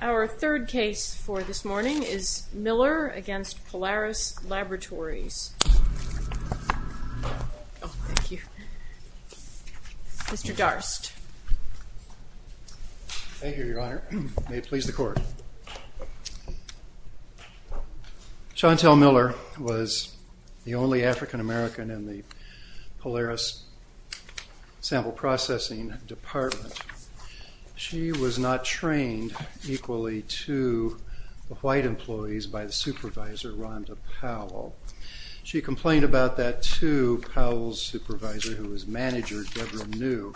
Our third case for this morning is Miller v. Polaris Laboratories. Mr. Darst. Thank you, Your Honor. May it please the Court. Chontel Miller was the only African American in the Polaris Sample Processing Department. She was not trained equally to the white employees by the supervisor, Rhonda Powell. She complained about that to Powell's supervisor, who was manager, Deborah New.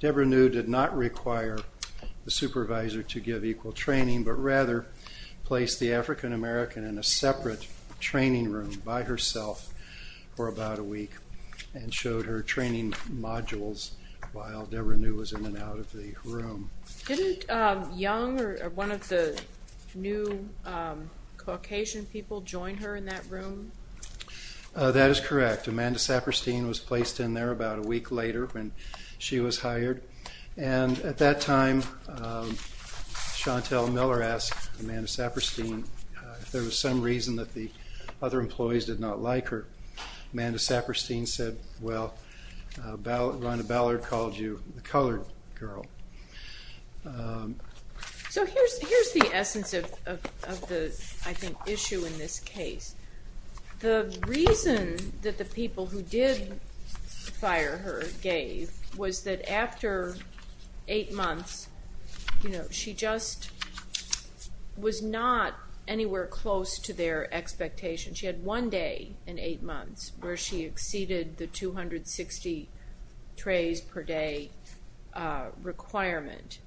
Deborah New did not require the supervisor to give equal training, but rather placed the African American in a separate training room by herself for about a week and showed her training modules while Deborah New was in and out of the room. Didn't Young or one of the new Caucasian people join her in that room? That is correct. Amanda Saperstein was placed in there about a week later when she was hired. And at that time, Chontel Miller asked Amanda Saperstein if there was some reason that the other employees did not like her. Amanda Saperstein said, well, Rhonda Ballard called you the colored girl. So here's the essence of the, I think, issue in this case. The reason that the people who did fire her gave was that after eight months, she just was not anywhere close to their expectation. She had one day in eight months where she exceeded the 260 trays per day requirement.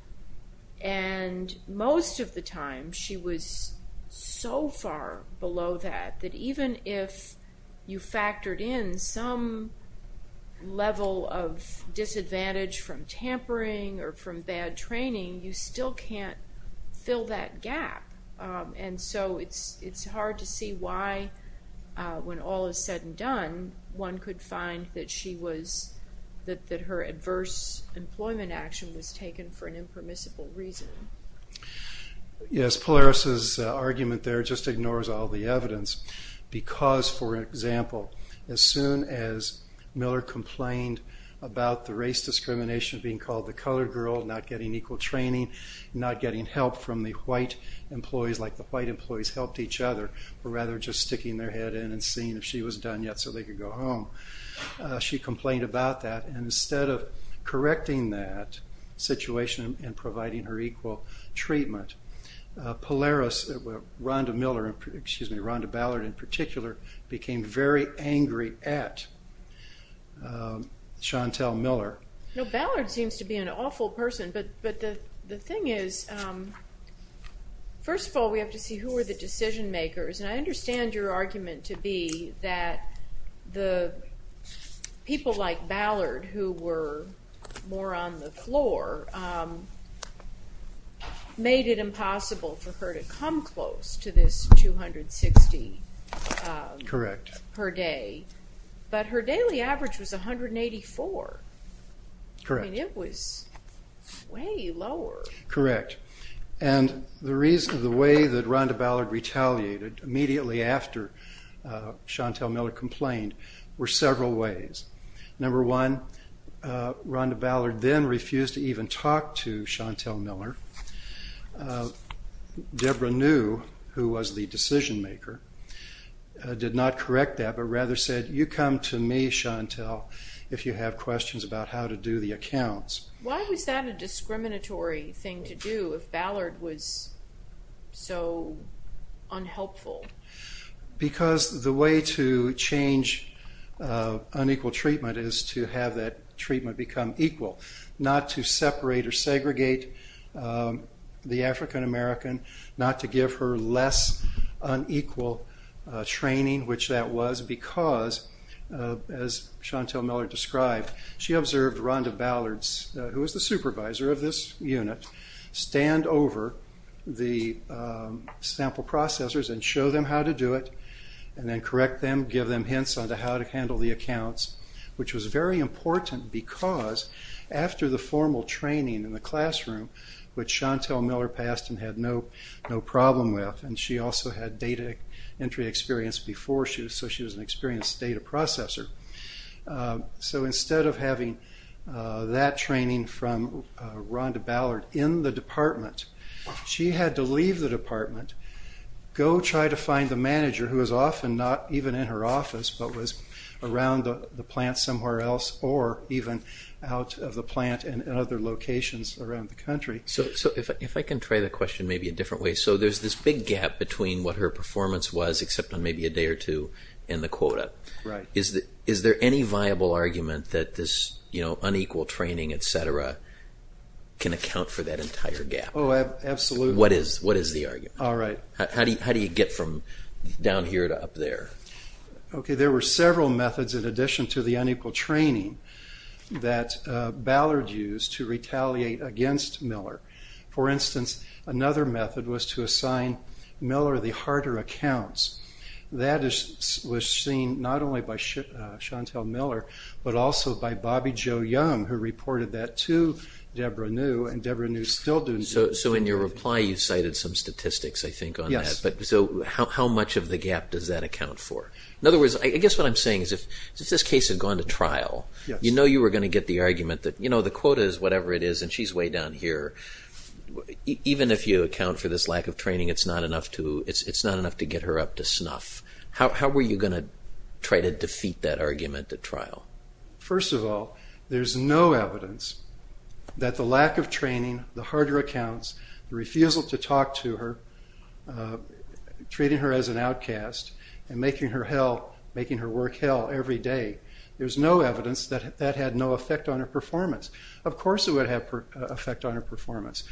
And most of the time, she was so far below that that even if you factored in some level of disadvantage from tampering or from bad training, you still can't fill that gap. And so it's hard to see why when all is said and done, one could find that she was, that her adverse employment action was taken for an impermissible reason. Yes, Polaris' argument there just ignores all the evidence because, for example, as soon as Miller complained about the race discrimination being called the colored girl, not getting equal training, not getting help from the white employees like the white employees helped each other, but rather just sticking their head in and seeing if she was done yet so they could go home, she complained about that. And instead of correcting that situation and providing her equal treatment, Polaris, Rhonda Miller, excuse me, Rhonda Ballard in particular, became very angry at Chantel Miller. No, Ballard seems to be an awful person, but the thing is, first of all, we have to see who were the decision makers. And I understand your argument to be that the people like Ballard who were more on the floor made it impossible for her to come close to this 260 per day, but her daily average was 184. And it was way lower. Correct. And the reason, the way that Rhonda Ballard retaliated immediately after Chantel Miller complained were several ways. Number one, Rhonda Ballard then refused to even talk to Chantel Miller. Deborah New, who was the decision maker, did not correct that, but rather said, you come to me, Chantel, if you have questions about how to do the accounts. Why was that a discriminatory thing to do if Ballard was so unhelpful? Because the way to change unequal treatment is to have that treatment become equal, not to separate or segregate the African American, not to give her less unequal training, which that was because, as Chantel Miller described, she observed Rhonda Ballard, who was the supervisor of this unit, stand over the sample processors and show them how to do it, and then correct them, give them hints on how to handle the accounts, which was very important because after the formal training in the classroom, which Chantel Miller passed and had no problem with, and she also had data entry experience before, so she was an experienced data processor. So instead of having that training from Rhonda Ballard in the department, she had to leave the department, go try to find the manager, who was often not even in her office, but was around the plant somewhere else or even out of the plant in other locations around the country. So if I can try the question maybe a different way. So there's this big gap between what her performance was, except on maybe a day or two, and the quota. Right. Is there any viable argument that this unequal training, et cetera, can account for that entire gap? Oh, absolutely. What is the argument? All right. How do you get from down here to up there? Okay, there were several methods in addition to the unequal training that Ballard used to retaliate against Miller. For instance, another method was to assign Miller the harder accounts. That was seen not only by Chantel Miller, but also by Bobby Jo Young, who reported that to Debra New, and Debra New is still doing that. So in your reply, you cited some statistics, I think, on that. Yes. So how much of the gap does that account for? In other words, I guess what I'm saying is if this case had gone to trial, you know you were going to get the argument that the quota is whatever it is, and she's way down here. Even if you account for this lack of training, it's not enough to get her up to snuff. How were you going to try to defeat that argument at trial? First of all, there's no evidence that the lack of training, the harder accounts, the refusal to talk to her, treating her as an outcast, and making her work hell every day, there's no evidence that that had no effect on her performance. Of course it would have an effect on her performance.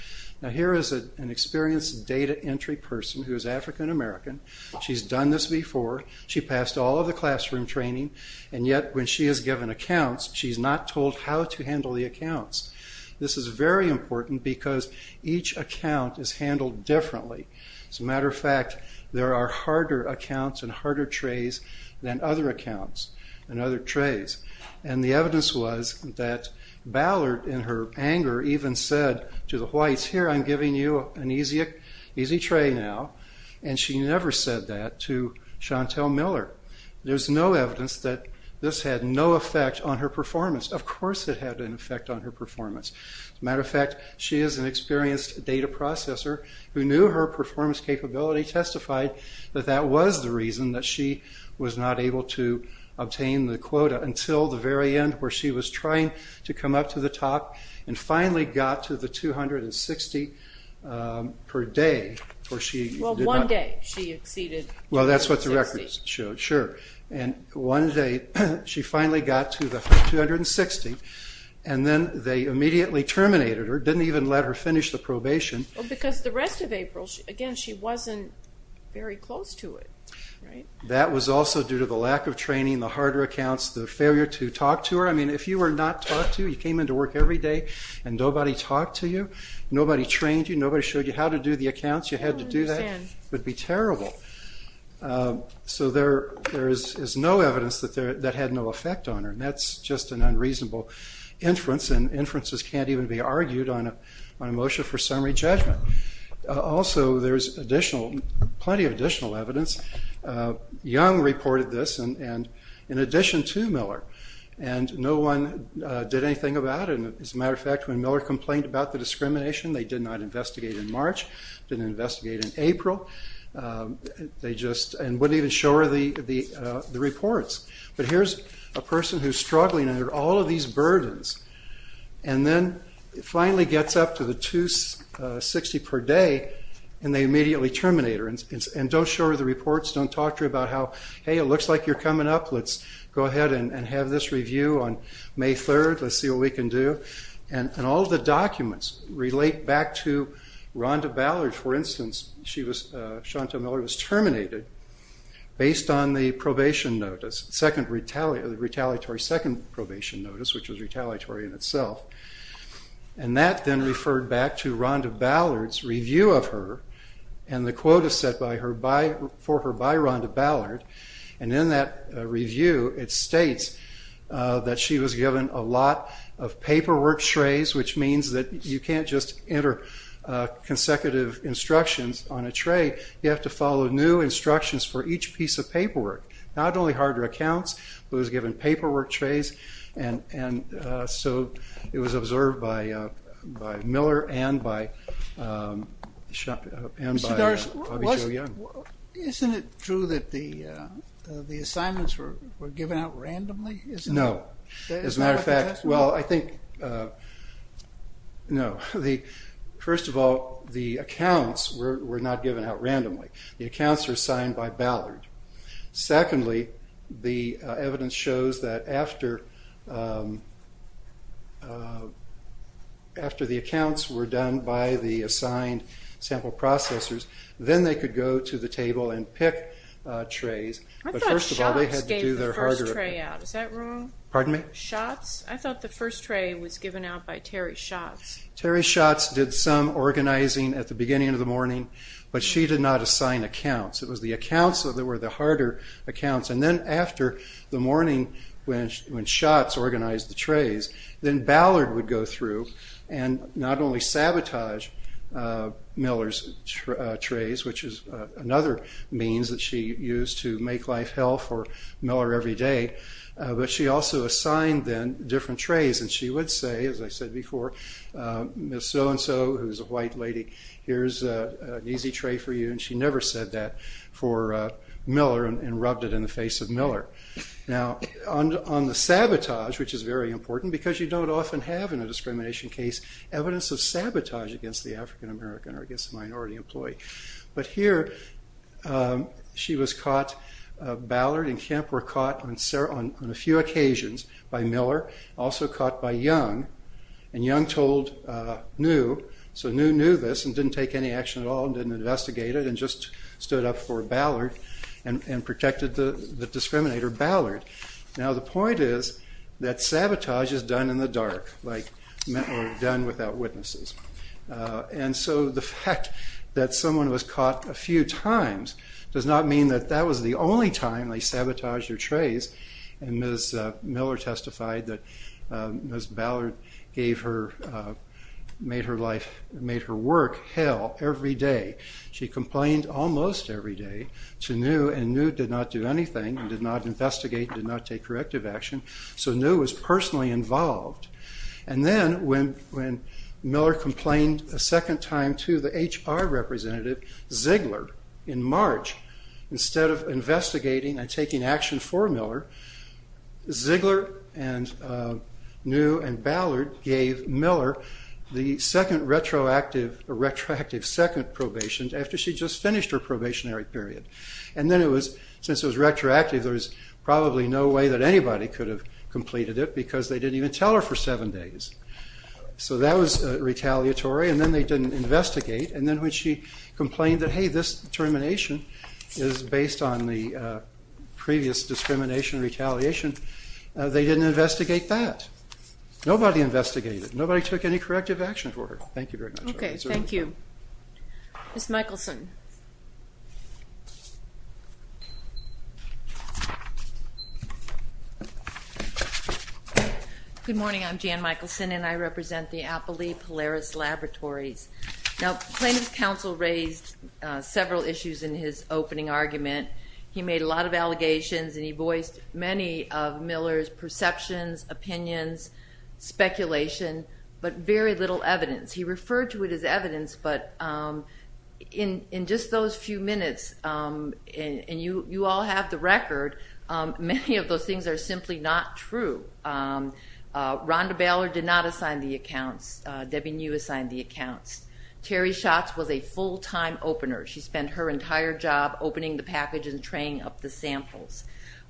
Now here is an experienced data entry person who is African American. She's done this before. She passed all of the classroom training, and yet when she is given accounts, she's not told how to handle the accounts. This is very important because each account is handled differently. As a matter of fact, there are harder accounts and harder trays than other accounts and other trays. The evidence was that Ballard, in her anger, even said to the Whites, here, I'm giving you an easy tray now, and she never said that to Chantel Miller. There's no evidence that this had no effect on her performance. Of course it had an effect on her performance. As a matter of fact, she is an experienced data processor who knew her performance capability, and she testified that that was the reason that she was not able to obtain the quota until the very end where she was trying to come up to the top and finally got to the 260 per day. Well, one day she exceeded 260. Well, that's what the records showed, sure. One day she finally got to the 260, and then they immediately terminated her, didn't even let her finish the probation. Well, because the rest of April, again, she wasn't very close to it, right? That was also due to the lack of training, the harder accounts, the failure to talk to her. I mean, if you were not talked to, you came into work every day and nobody talked to you, nobody trained you, nobody showed you how to do the accounts, you had to do that. I don't understand. It would be terrible. So there is no evidence that that had no effect on her, and that's just an unreasonable inference, and inferences can't even be argued on a motion for summary judgment. Also, there's plenty of additional evidence. Young reported this in addition to Miller, and no one did anything about it. As a matter of fact, when Miller complained about the discrimination, they did not investigate in March, didn't investigate in April, and wouldn't even show her the reports. But here's a person who's struggling under all of these burdens, and then finally gets up to the $2.60 per day, and they immediately terminate her. And don't show her the reports, don't talk to her about how, hey, it looks like you're coming up, let's go ahead and have this review on May 3rd, let's see what we can do. And all of the documents relate back to Rhonda Ballard, for instance. Chantal Miller was terminated based on the probation notice, the retaliatory second probation notice, which was retaliatory in itself. And that then referred back to Rhonda Ballard's review of her, and the quote is set for her by Rhonda Ballard. And in that review, it states that she was given a lot of paperwork strays, which means that you can't just enter consecutive instructions on a tray, you have to follow new instructions for each piece of paperwork. Not only harder accounts, but it was given paperwork strays, and so it was observed by Miller and by Bobby Jo Young. Isn't it true that the assignments were given out randomly? No. As a matter of fact, well, I think, no. First of all, the accounts were not given out randomly. The accounts were signed by Ballard. Secondly, the evidence shows that after the accounts were done by the assigned sample processors, then they could go to the table and pick trays. I thought Schatz gave the first tray out. Is that wrong? Pardon me? Schatz? I thought the first tray was given out by Terry Schatz. Terry Schatz did some organizing at the beginning of the morning, but she did not assign accounts. It was the accounts that were the harder accounts, and then after the morning when Schatz organized the trays, then Ballard would go through and not only sabotage Miller's trays, which is another means that she used to make life hell for Miller every day, but she also assigned then different trays, and she would say, as I said before, Ms. So-and-so, who's a white lady, here's an easy tray for you, and she never said that for Miller and rubbed it in the face of Miller. Now, on the sabotage, which is very important, because you don't often have in a discrimination case evidence of sabotage against the African American or against a minority employee, but here she was caught, Ballard and Kemp were caught on a few occasions by Miller, also caught by Young, and Young told New, so New knew this and didn't take any action at all and didn't investigate it and just stood up for Ballard and protected the discriminator, Ballard. Now, the point is that sabotage is done in the dark, or done without witnesses. And so the fact that someone was caught a few times does not mean that that was the only time they sabotaged her trays, and Ms. Miller testified that Ms. Ballard made her work hell every day. She complained almost every day to New, and New did not do anything and did not investigate, did not take corrective action, so New was personally involved. And then when Miller complained a second time to the HR representative, Ziegler, in March, instead of investigating and taking action for Miller, Ziegler and New and Ballard gave Miller the second retroactive second probation after she just finished her probationary period. And then it was, since it was retroactive, there was probably no way that anybody could have completed it because they didn't even tell her for seven days. So that was retaliatory, and then they didn't investigate. And then when she complained that, hey, this termination is based on the previous discrimination retaliation, they didn't investigate that. Nobody investigated it. Nobody took any corrective action for her. Thank you very much. Okay, thank you. Ms. Michelson. Good morning. I'm Jan Michelson, and I represent the Appley Polaris Laboratories. Now plaintiff's counsel raised several issues in his opening argument. He made a lot of allegations, and he voiced many of Miller's perceptions, opinions, speculation, but very little evidence. He referred to it as evidence, but in just those few minutes, and you all have the record, many of those things are simply not true. Rhonda Ballard did not assign the accounts. Debbie New assigned the accounts. Terry Schatz was a full-time opener. She spent her entire job opening the package and traying up the samples.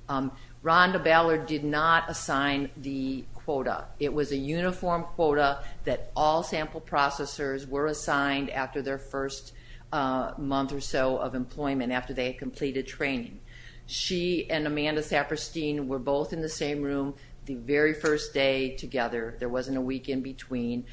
Rhonda Ballard did not assign the quota. It was a uniform quota that all sample processors were assigned after their first month or so of employment, after they had completed training. She and Amanda Saperstein were both in the same room the very first day together. There wasn't a week in between.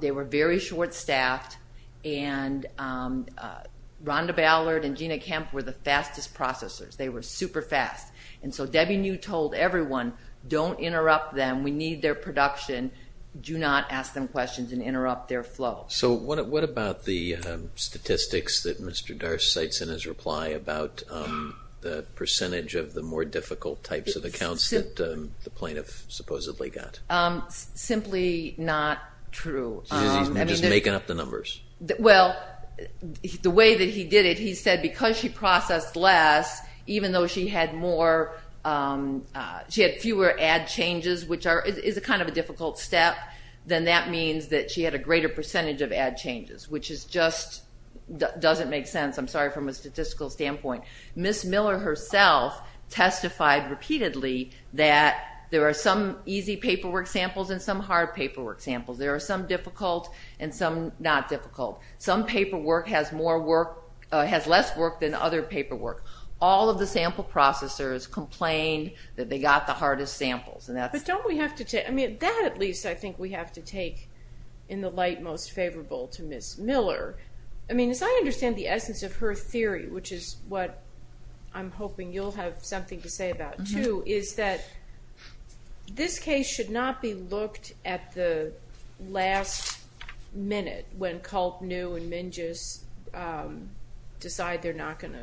They were very short-staffed, and Rhonda Ballard and Gina Kemp were the fastest processors. They were super fast. And so Debbie New told everyone, don't interrupt them. We need their production. Do not ask them questions and interrupt their flow. So what about the statistics that Mr. Darst cites in his reply about the percentage of the more difficult types of accounts that the plaintiff supposedly got? Simply not true. You're just making up the numbers. Well, the way that he did it, he said because she processed less, even though she had fewer ad changes, which is kind of a difficult step, then that means that she had a greater percentage of ad changes, which just doesn't make sense, I'm sorry, from a statistical standpoint. Ms. Miller herself testified repeatedly that there are some easy paperwork samples and some hard paperwork samples. There are some difficult and some not difficult. Some paperwork has less work than other paperwork. All of the sample processors complained that they got the hardest samples. But don't we have to take, I mean, that at least I think we have to take in the light most favorable to Ms. Miller. I mean, as I understand the essence of her theory, which is what I'm hoping you'll have something to say about too, is that this case should not be looked at the last minute when Culp knew and Minges decided they're not going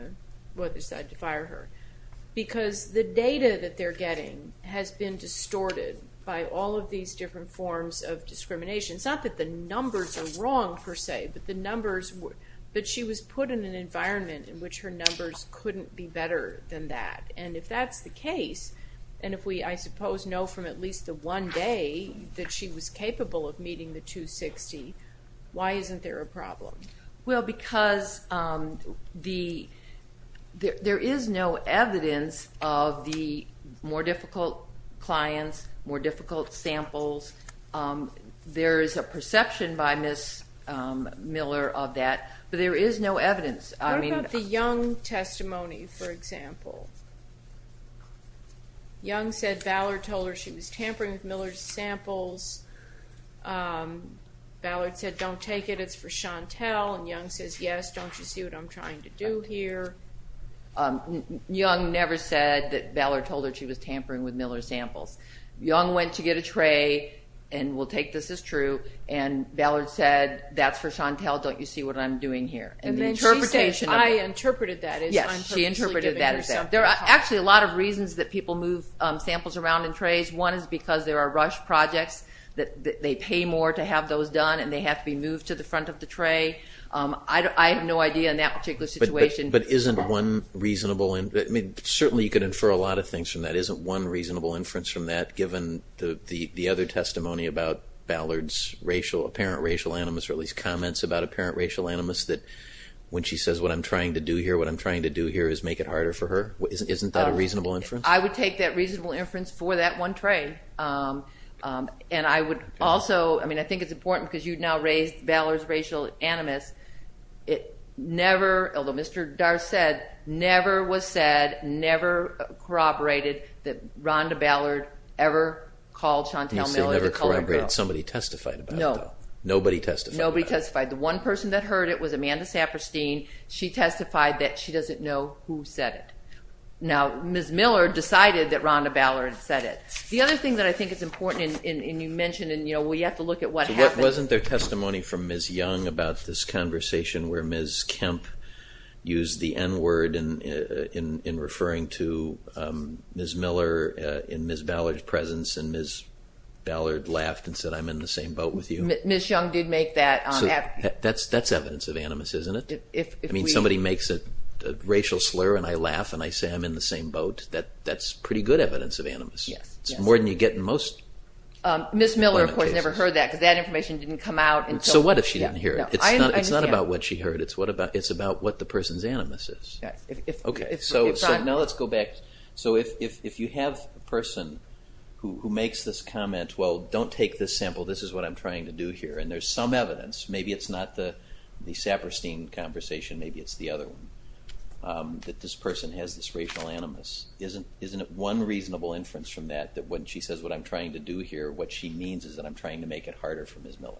to fire her because the data that they're getting has been distorted by all of these different forms of discrimination. It's not that the numbers are wrong per se, but the numbers were. But she was put in an environment in which her numbers couldn't be better than that. And if that's the case, and if we, I suppose, know from at least the one day that she was capable of meeting the 260, why isn't there a problem? Well, because there is no evidence of the more difficult clients, more difficult samples. There is a perception by Ms. Miller of that, but there is no evidence. What about the Young testimony, for example? Young said Ballard told her she was tampering with Miller's samples. Ballard said, don't take it, it's for Chantel. And Young says, yes, don't you see what I'm trying to do here? Young never said that Ballard told her she was tampering with Miller's samples. Young went to get a tray, and we'll take this as true, and Ballard said, that's for Chantel, don't you see what I'm doing here? And then she says, I interpreted that as I'm purposely giving her something to talk about. Yes, she interpreted that as that. There are actually a lot of reasons that people move samples around in trays. One is because there are rush projects, that they pay more to have those done, and they have to be moved to the front of the tray. I have no idea in that particular situation. But isn't one reasonable, I mean, certainly you could infer a lot of things from that. Isn't one reasonable inference from that, given the other testimony about Ballard's racial, apparent racial animus, or at least comments about apparent racial animus, that when she says what I'm trying to do here, what I'm trying to do here is make it harder for her? Isn't that a reasonable inference? I would take that reasonable inference for that one tray. And I would also, I mean, I think it's important because you've now raised Ballard's racial animus. It never, although Mr. Dar said, never was said, never corroborated, that Rhonda Ballard ever called Chantel Miller the colored girl. She never corroborated. Somebody testified about that. No. Nobody testified. Nobody testified. The one person that heard it was Amanda Saperstein. She testified that she doesn't know who said it. Now, Ms. Miller decided that Rhonda Ballard said it. The other thing that I think is important, and you mentioned, and, you know, we have to look at what happened. Wasn't there testimony from Ms. Young about this conversation where Ms. Kemp used the N word in referring to Ms. Miller in Ms. Ballard's presence and Ms. Ballard laughed and said, I'm in the same boat with you? Ms. Young did make that. That's evidence of animus, isn't it? I mean, if somebody makes a racial slur and I laugh and I say I'm in the same boat, that's pretty good evidence of animus. Yes. It's more than you get in most. Ms. Miller, of course, never heard that because that information didn't come out until. So what if she didn't hear it? I understand. It's not about what she heard. It's about what the person's animus is. Yes. Okay. So now let's go back. So if you have a person who makes this comment, well, don't take this sample, this is what I'm trying to do here, and there's some evidence, maybe it's not the Saperstein conversation, maybe it's the other one, that this person has this racial animus, isn't it one reasonable inference from that that when she says what I'm trying to do here, what she means is that I'm trying to make it harder for Ms. Miller?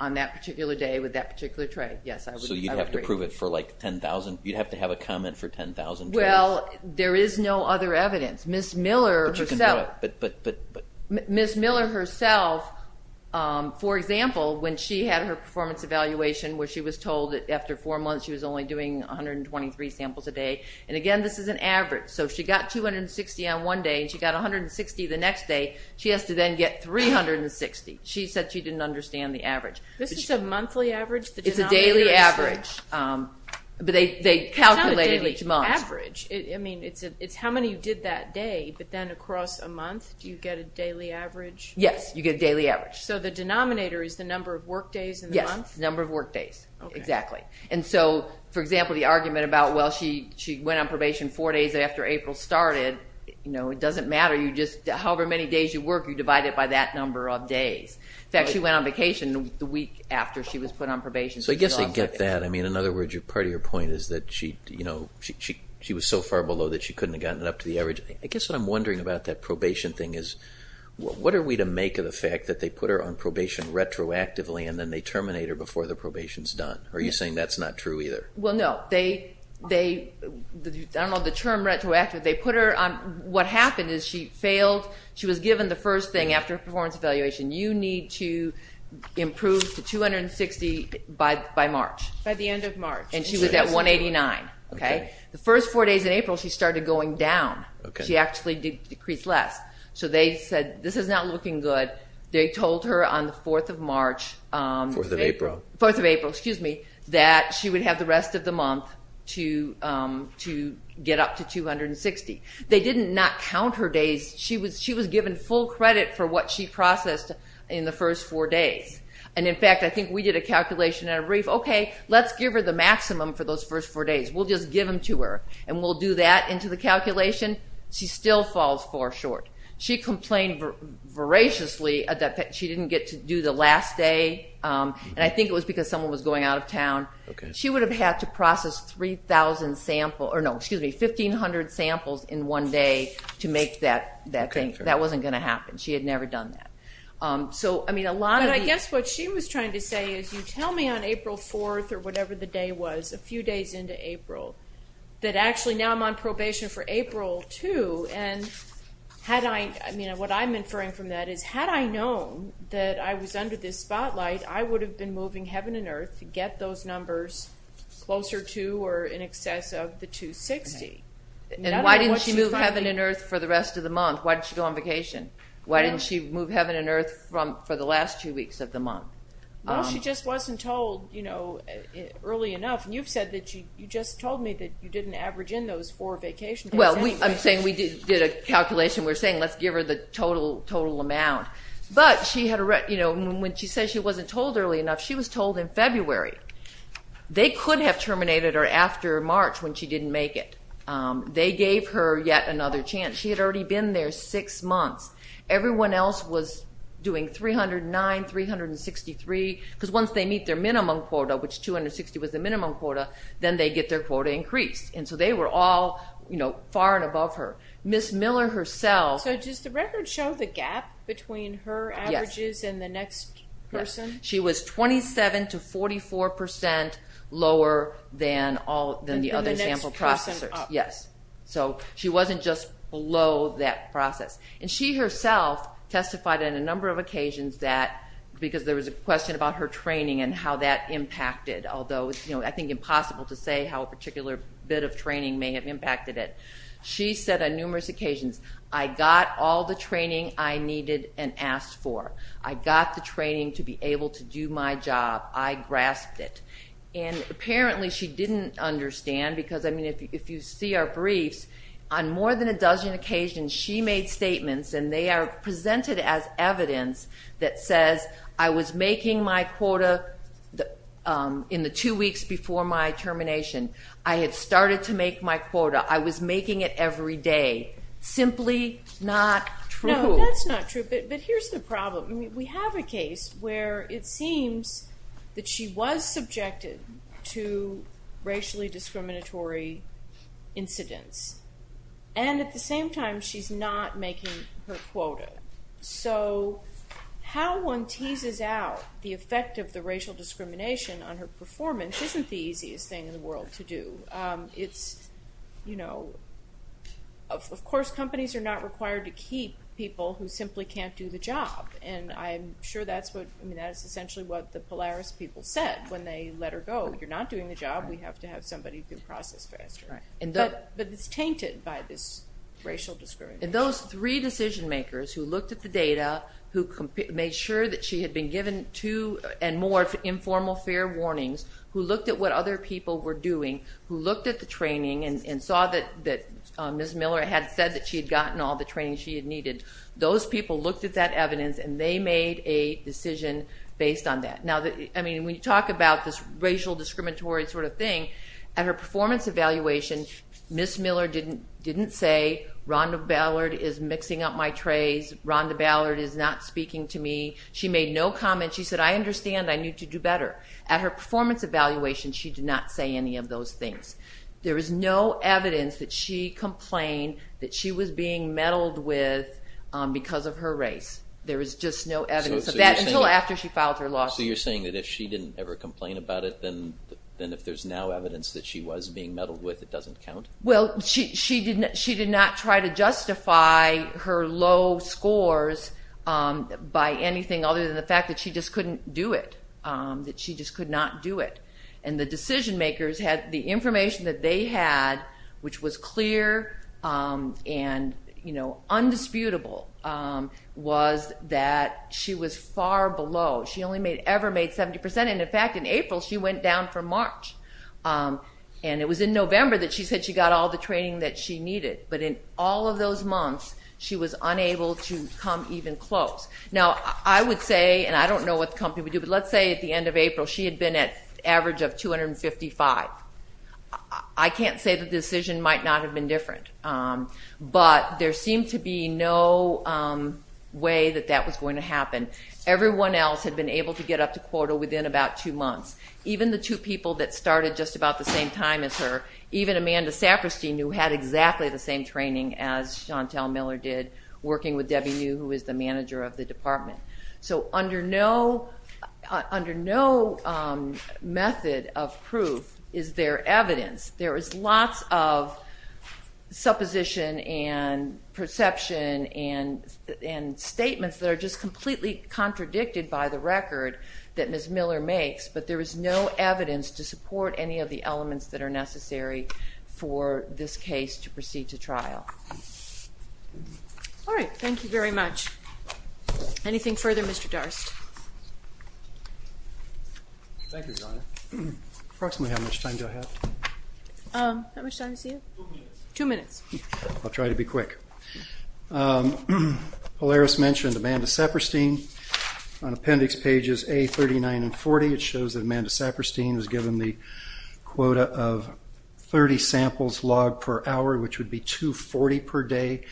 On that particular day with that particular trait, yes, I would agree. So you'd have to prove it for like 10,000? You'd have to have a comment for 10,000 traits? Well, there is no other evidence. Ms. Miller herself, for example, when she had her performance evaluation where she was told that after four months she was only doing 123 samples a day, and again, this is an average. So she got 260 on one day and she got 160 the next day. She has to then get 360. She said she didn't understand the average. This is a monthly average? It's a daily average, but they calculated each month. It's not a daily average. I mean, it's how many you did that day, but then across a month, do you get a daily average? Yes, you get a daily average. So the denominator is the number of work days in the month? Yes, the number of work days, exactly. And so, for example, the argument about, well, she went on probation four days after April started, you know, it doesn't matter. However many days you work, you divide it by that number of days. In fact, she went on vacation the week after she was put on probation. So I guess they get that. I mean, in other words, part of your point is that she was so far below that she couldn't have gotten it up to the average. I guess what I'm wondering about that probation thing is, what are we to make of the fact that they put her on probation retroactively and then they terminate her before the probation is done? Are you saying that's not true either? Well, no. I don't know the term retroactively. What happened is she failed. She was given the first thing after a performance evaluation. You need to improve to 260 by March. By the end of March. And she was at 189. The first four days in April, she started going down. She actually decreased less. So they said, this is not looking good. They told her on the 4th of March, 4th of April, excuse me, that she would have the rest of the month to get up to 260. They did not count her days. She was given full credit for what she processed in the first four days. And, in fact, I think we did a calculation at a brief. Okay, let's give her the maximum for those first four days. We'll just give them to her, and we'll do that into the calculation. She still falls far short. She complained voraciously that she didn't get to do the last day, and I think it was because someone was going out of town. She would have had to process 1,500 samples in one day to make that thing. That wasn't going to happen. She had never done that. But I guess what she was trying to say is, you tell me on April 4th or whatever the day was, a few days into April, that actually now I'm on probation for April 2, and what I'm inferring from that is, had I known that I was under this spotlight, I would have been moving heaven and earth to get those numbers closer to or in excess of the 260. And why didn't she move heaven and earth for the rest of the month? Why didn't she go on vacation? Why didn't she move heaven and earth for the last two weeks of the month? Well, she just wasn't told early enough. And you've said that you just told me that you didn't average in those four vacations. Well, I'm saying we did a calculation. We're saying let's give her the total amount. But when she says she wasn't told early enough, she was told in February. They could have terminated her after March when she didn't make it. They gave her yet another chance. She had already been there six months. Everyone else was doing 309, 363, because once they meet their minimum quota, which 260 was the minimum quota, then they get their quota increased. And so they were all far and above her. Ms. Miller herself. So does the record show the gap between her averages and the next person? Yes. She was 27% to 44% lower than the other sample processors. And the next person up. Yes. So she wasn't just below that process. And she herself testified on a number of occasions that, because there was a question about her training and how that impacted, although I think it's impossible to say how a particular bit of training may have impacted it. She said on numerous occasions, I got all the training I needed and asked for. I got the training to be able to do my job. I grasped it. And apparently she didn't understand, because, I mean, if you see our briefs, on more than a dozen occasions she made statements, and they are presented as evidence that says, I was making my quota in the two weeks before my termination. I had started to make my quota. I was making it every day. Simply not true. No, that's not true. But here's the problem. We have a case where it seems that she was subjected to racially discriminatory incidents, and at the same time she's not making her quota. So how one teases out the effect of the racial discrimination on her performance isn't the easiest thing in the world to do. It's, you know, of course companies are not required to keep people who simply can't do the job, and I'm sure that's essentially what the Polaris people said when they let her go. You're not doing the job. We have to have somebody who can process faster. But it's tainted by this racial discrimination. And those three decision makers who looked at the data, who made sure that she had been given two and more informal fair warnings, who looked at what other people were doing, who looked at the training and saw that Ms. Miller had said that she had gotten all the training she had needed, those people looked at that evidence and they made a decision based on that. Now, I mean, when you talk about this racial discriminatory sort of thing, at her performance evaluation Ms. Miller didn't say, Rhonda Ballard is mixing up my trays. Rhonda Ballard is not speaking to me. She made no comment. She said, I understand. I need to do better. At her performance evaluation she did not say any of those things. There is no evidence that she complained that she was being meddled with because of her race. There is just no evidence of that until after she filed her lawsuit. So you're saying that if she didn't ever complain about it, then if there's now evidence that she was being meddled with, it doesn't count? Well, she did not try to justify her low scores by anything other than the fact that she just couldn't do it, that she just could not do it. And the decision makers had the information that they had, which was clear and undisputable, was that she was far below. She only ever made 70%. And, in fact, in April she went down from March. And it was in November that she said she got all the training that she needed. But in all of those months she was unable to come even close. Now, I would say, and I don't know what the company would do, but let's say at the end of April she had been at an average of 255. I can't say that the decision might not have been different. But there seemed to be no way that that was going to happen. Everyone else had been able to get up to quota within about two months. Even the two people that started just about the same time as her, even Amanda Saperstein, who had exactly the same training as Chantel Miller did, working with Debbie New, who is the manager of the department. So under no method of proof is there evidence. There is lots of supposition and perception and statements that are just completely contradicted by the record that Ms. Miller makes, but there is no evidence to support any of the elements that are necessary for this case to proceed to trial. All right, thank you very much. Anything further, Mr. Darst? Thank you, Donna. Approximately how much time do I have? How much time is it? Two minutes. Two minutes. I'll try to be quick. Polaris mentioned Amanda Saperstein. On appendix pages A, 39, and 40, it shows that Amanda Saperstein was given the quota of 30 samples logged per hour, which would be 240 per day,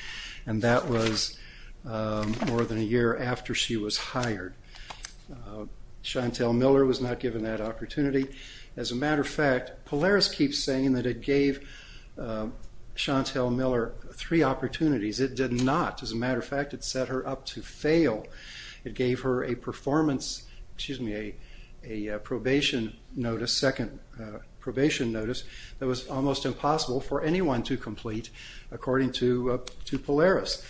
and that was more than a year after she was hired. Chantel Miller was not given that opportunity. As a matter of fact, Polaris keeps saying that it gave Chantel Miller three opportunities. It did not. As a matter of fact, it set her up to fail. It gave her a performance, excuse me, a probation notice, second probation notice, that was almost impossible for anyone to complete, according to Polaris,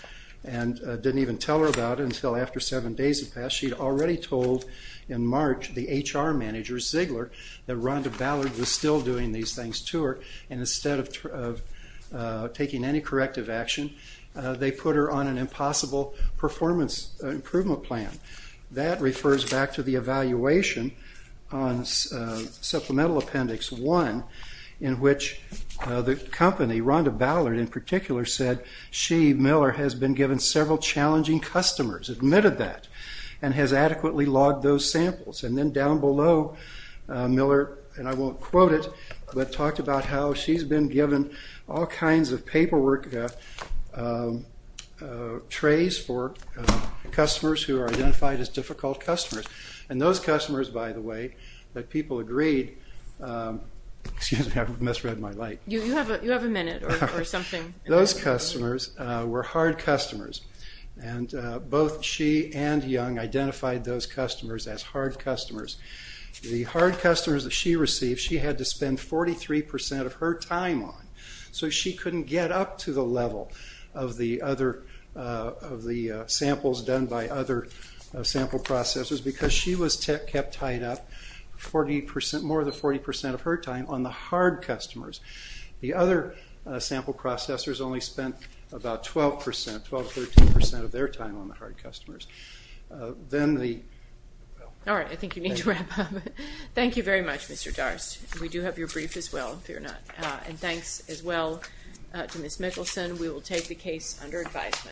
and didn't even tell her about it until after seven days had passed. She had already told in March the HR manager, Ziegler, that Rhonda Ballard was still doing these things to her, and instead of taking any corrective action, they put her on an impossible performance improvement plan. That refers back to the evaluation on supplemental appendix one, in which the company, Rhonda Ballard in particular, said she, Miller, has been given several challenging customers, admitted that, and has adequately logged those samples. And then down below, Miller, and I won't quote it, but talked about how she's been given all kinds of paperwork trays for customers who are identified as difficult customers. And those customers, by the way, that people agreed, excuse me, I misread my light. You have a minute or something. Those customers were hard customers, and both she and Young identified those customers as hard customers. The hard customers that she received, she had to spend 43% of her time on, so she couldn't get up to the level of the samples done by other sample processors, because she was kept tied up more than 40% of her time on the hard customers. The other sample processors only spent about 12%, 12% to 13% of their time on the hard customers. Then the... All right. I think you need to wrap up. Thank you very much, Mr. Darst. We do have your brief as well, if you're not. And thanks as well to Ms. Mickelson. We will take the case under advisement.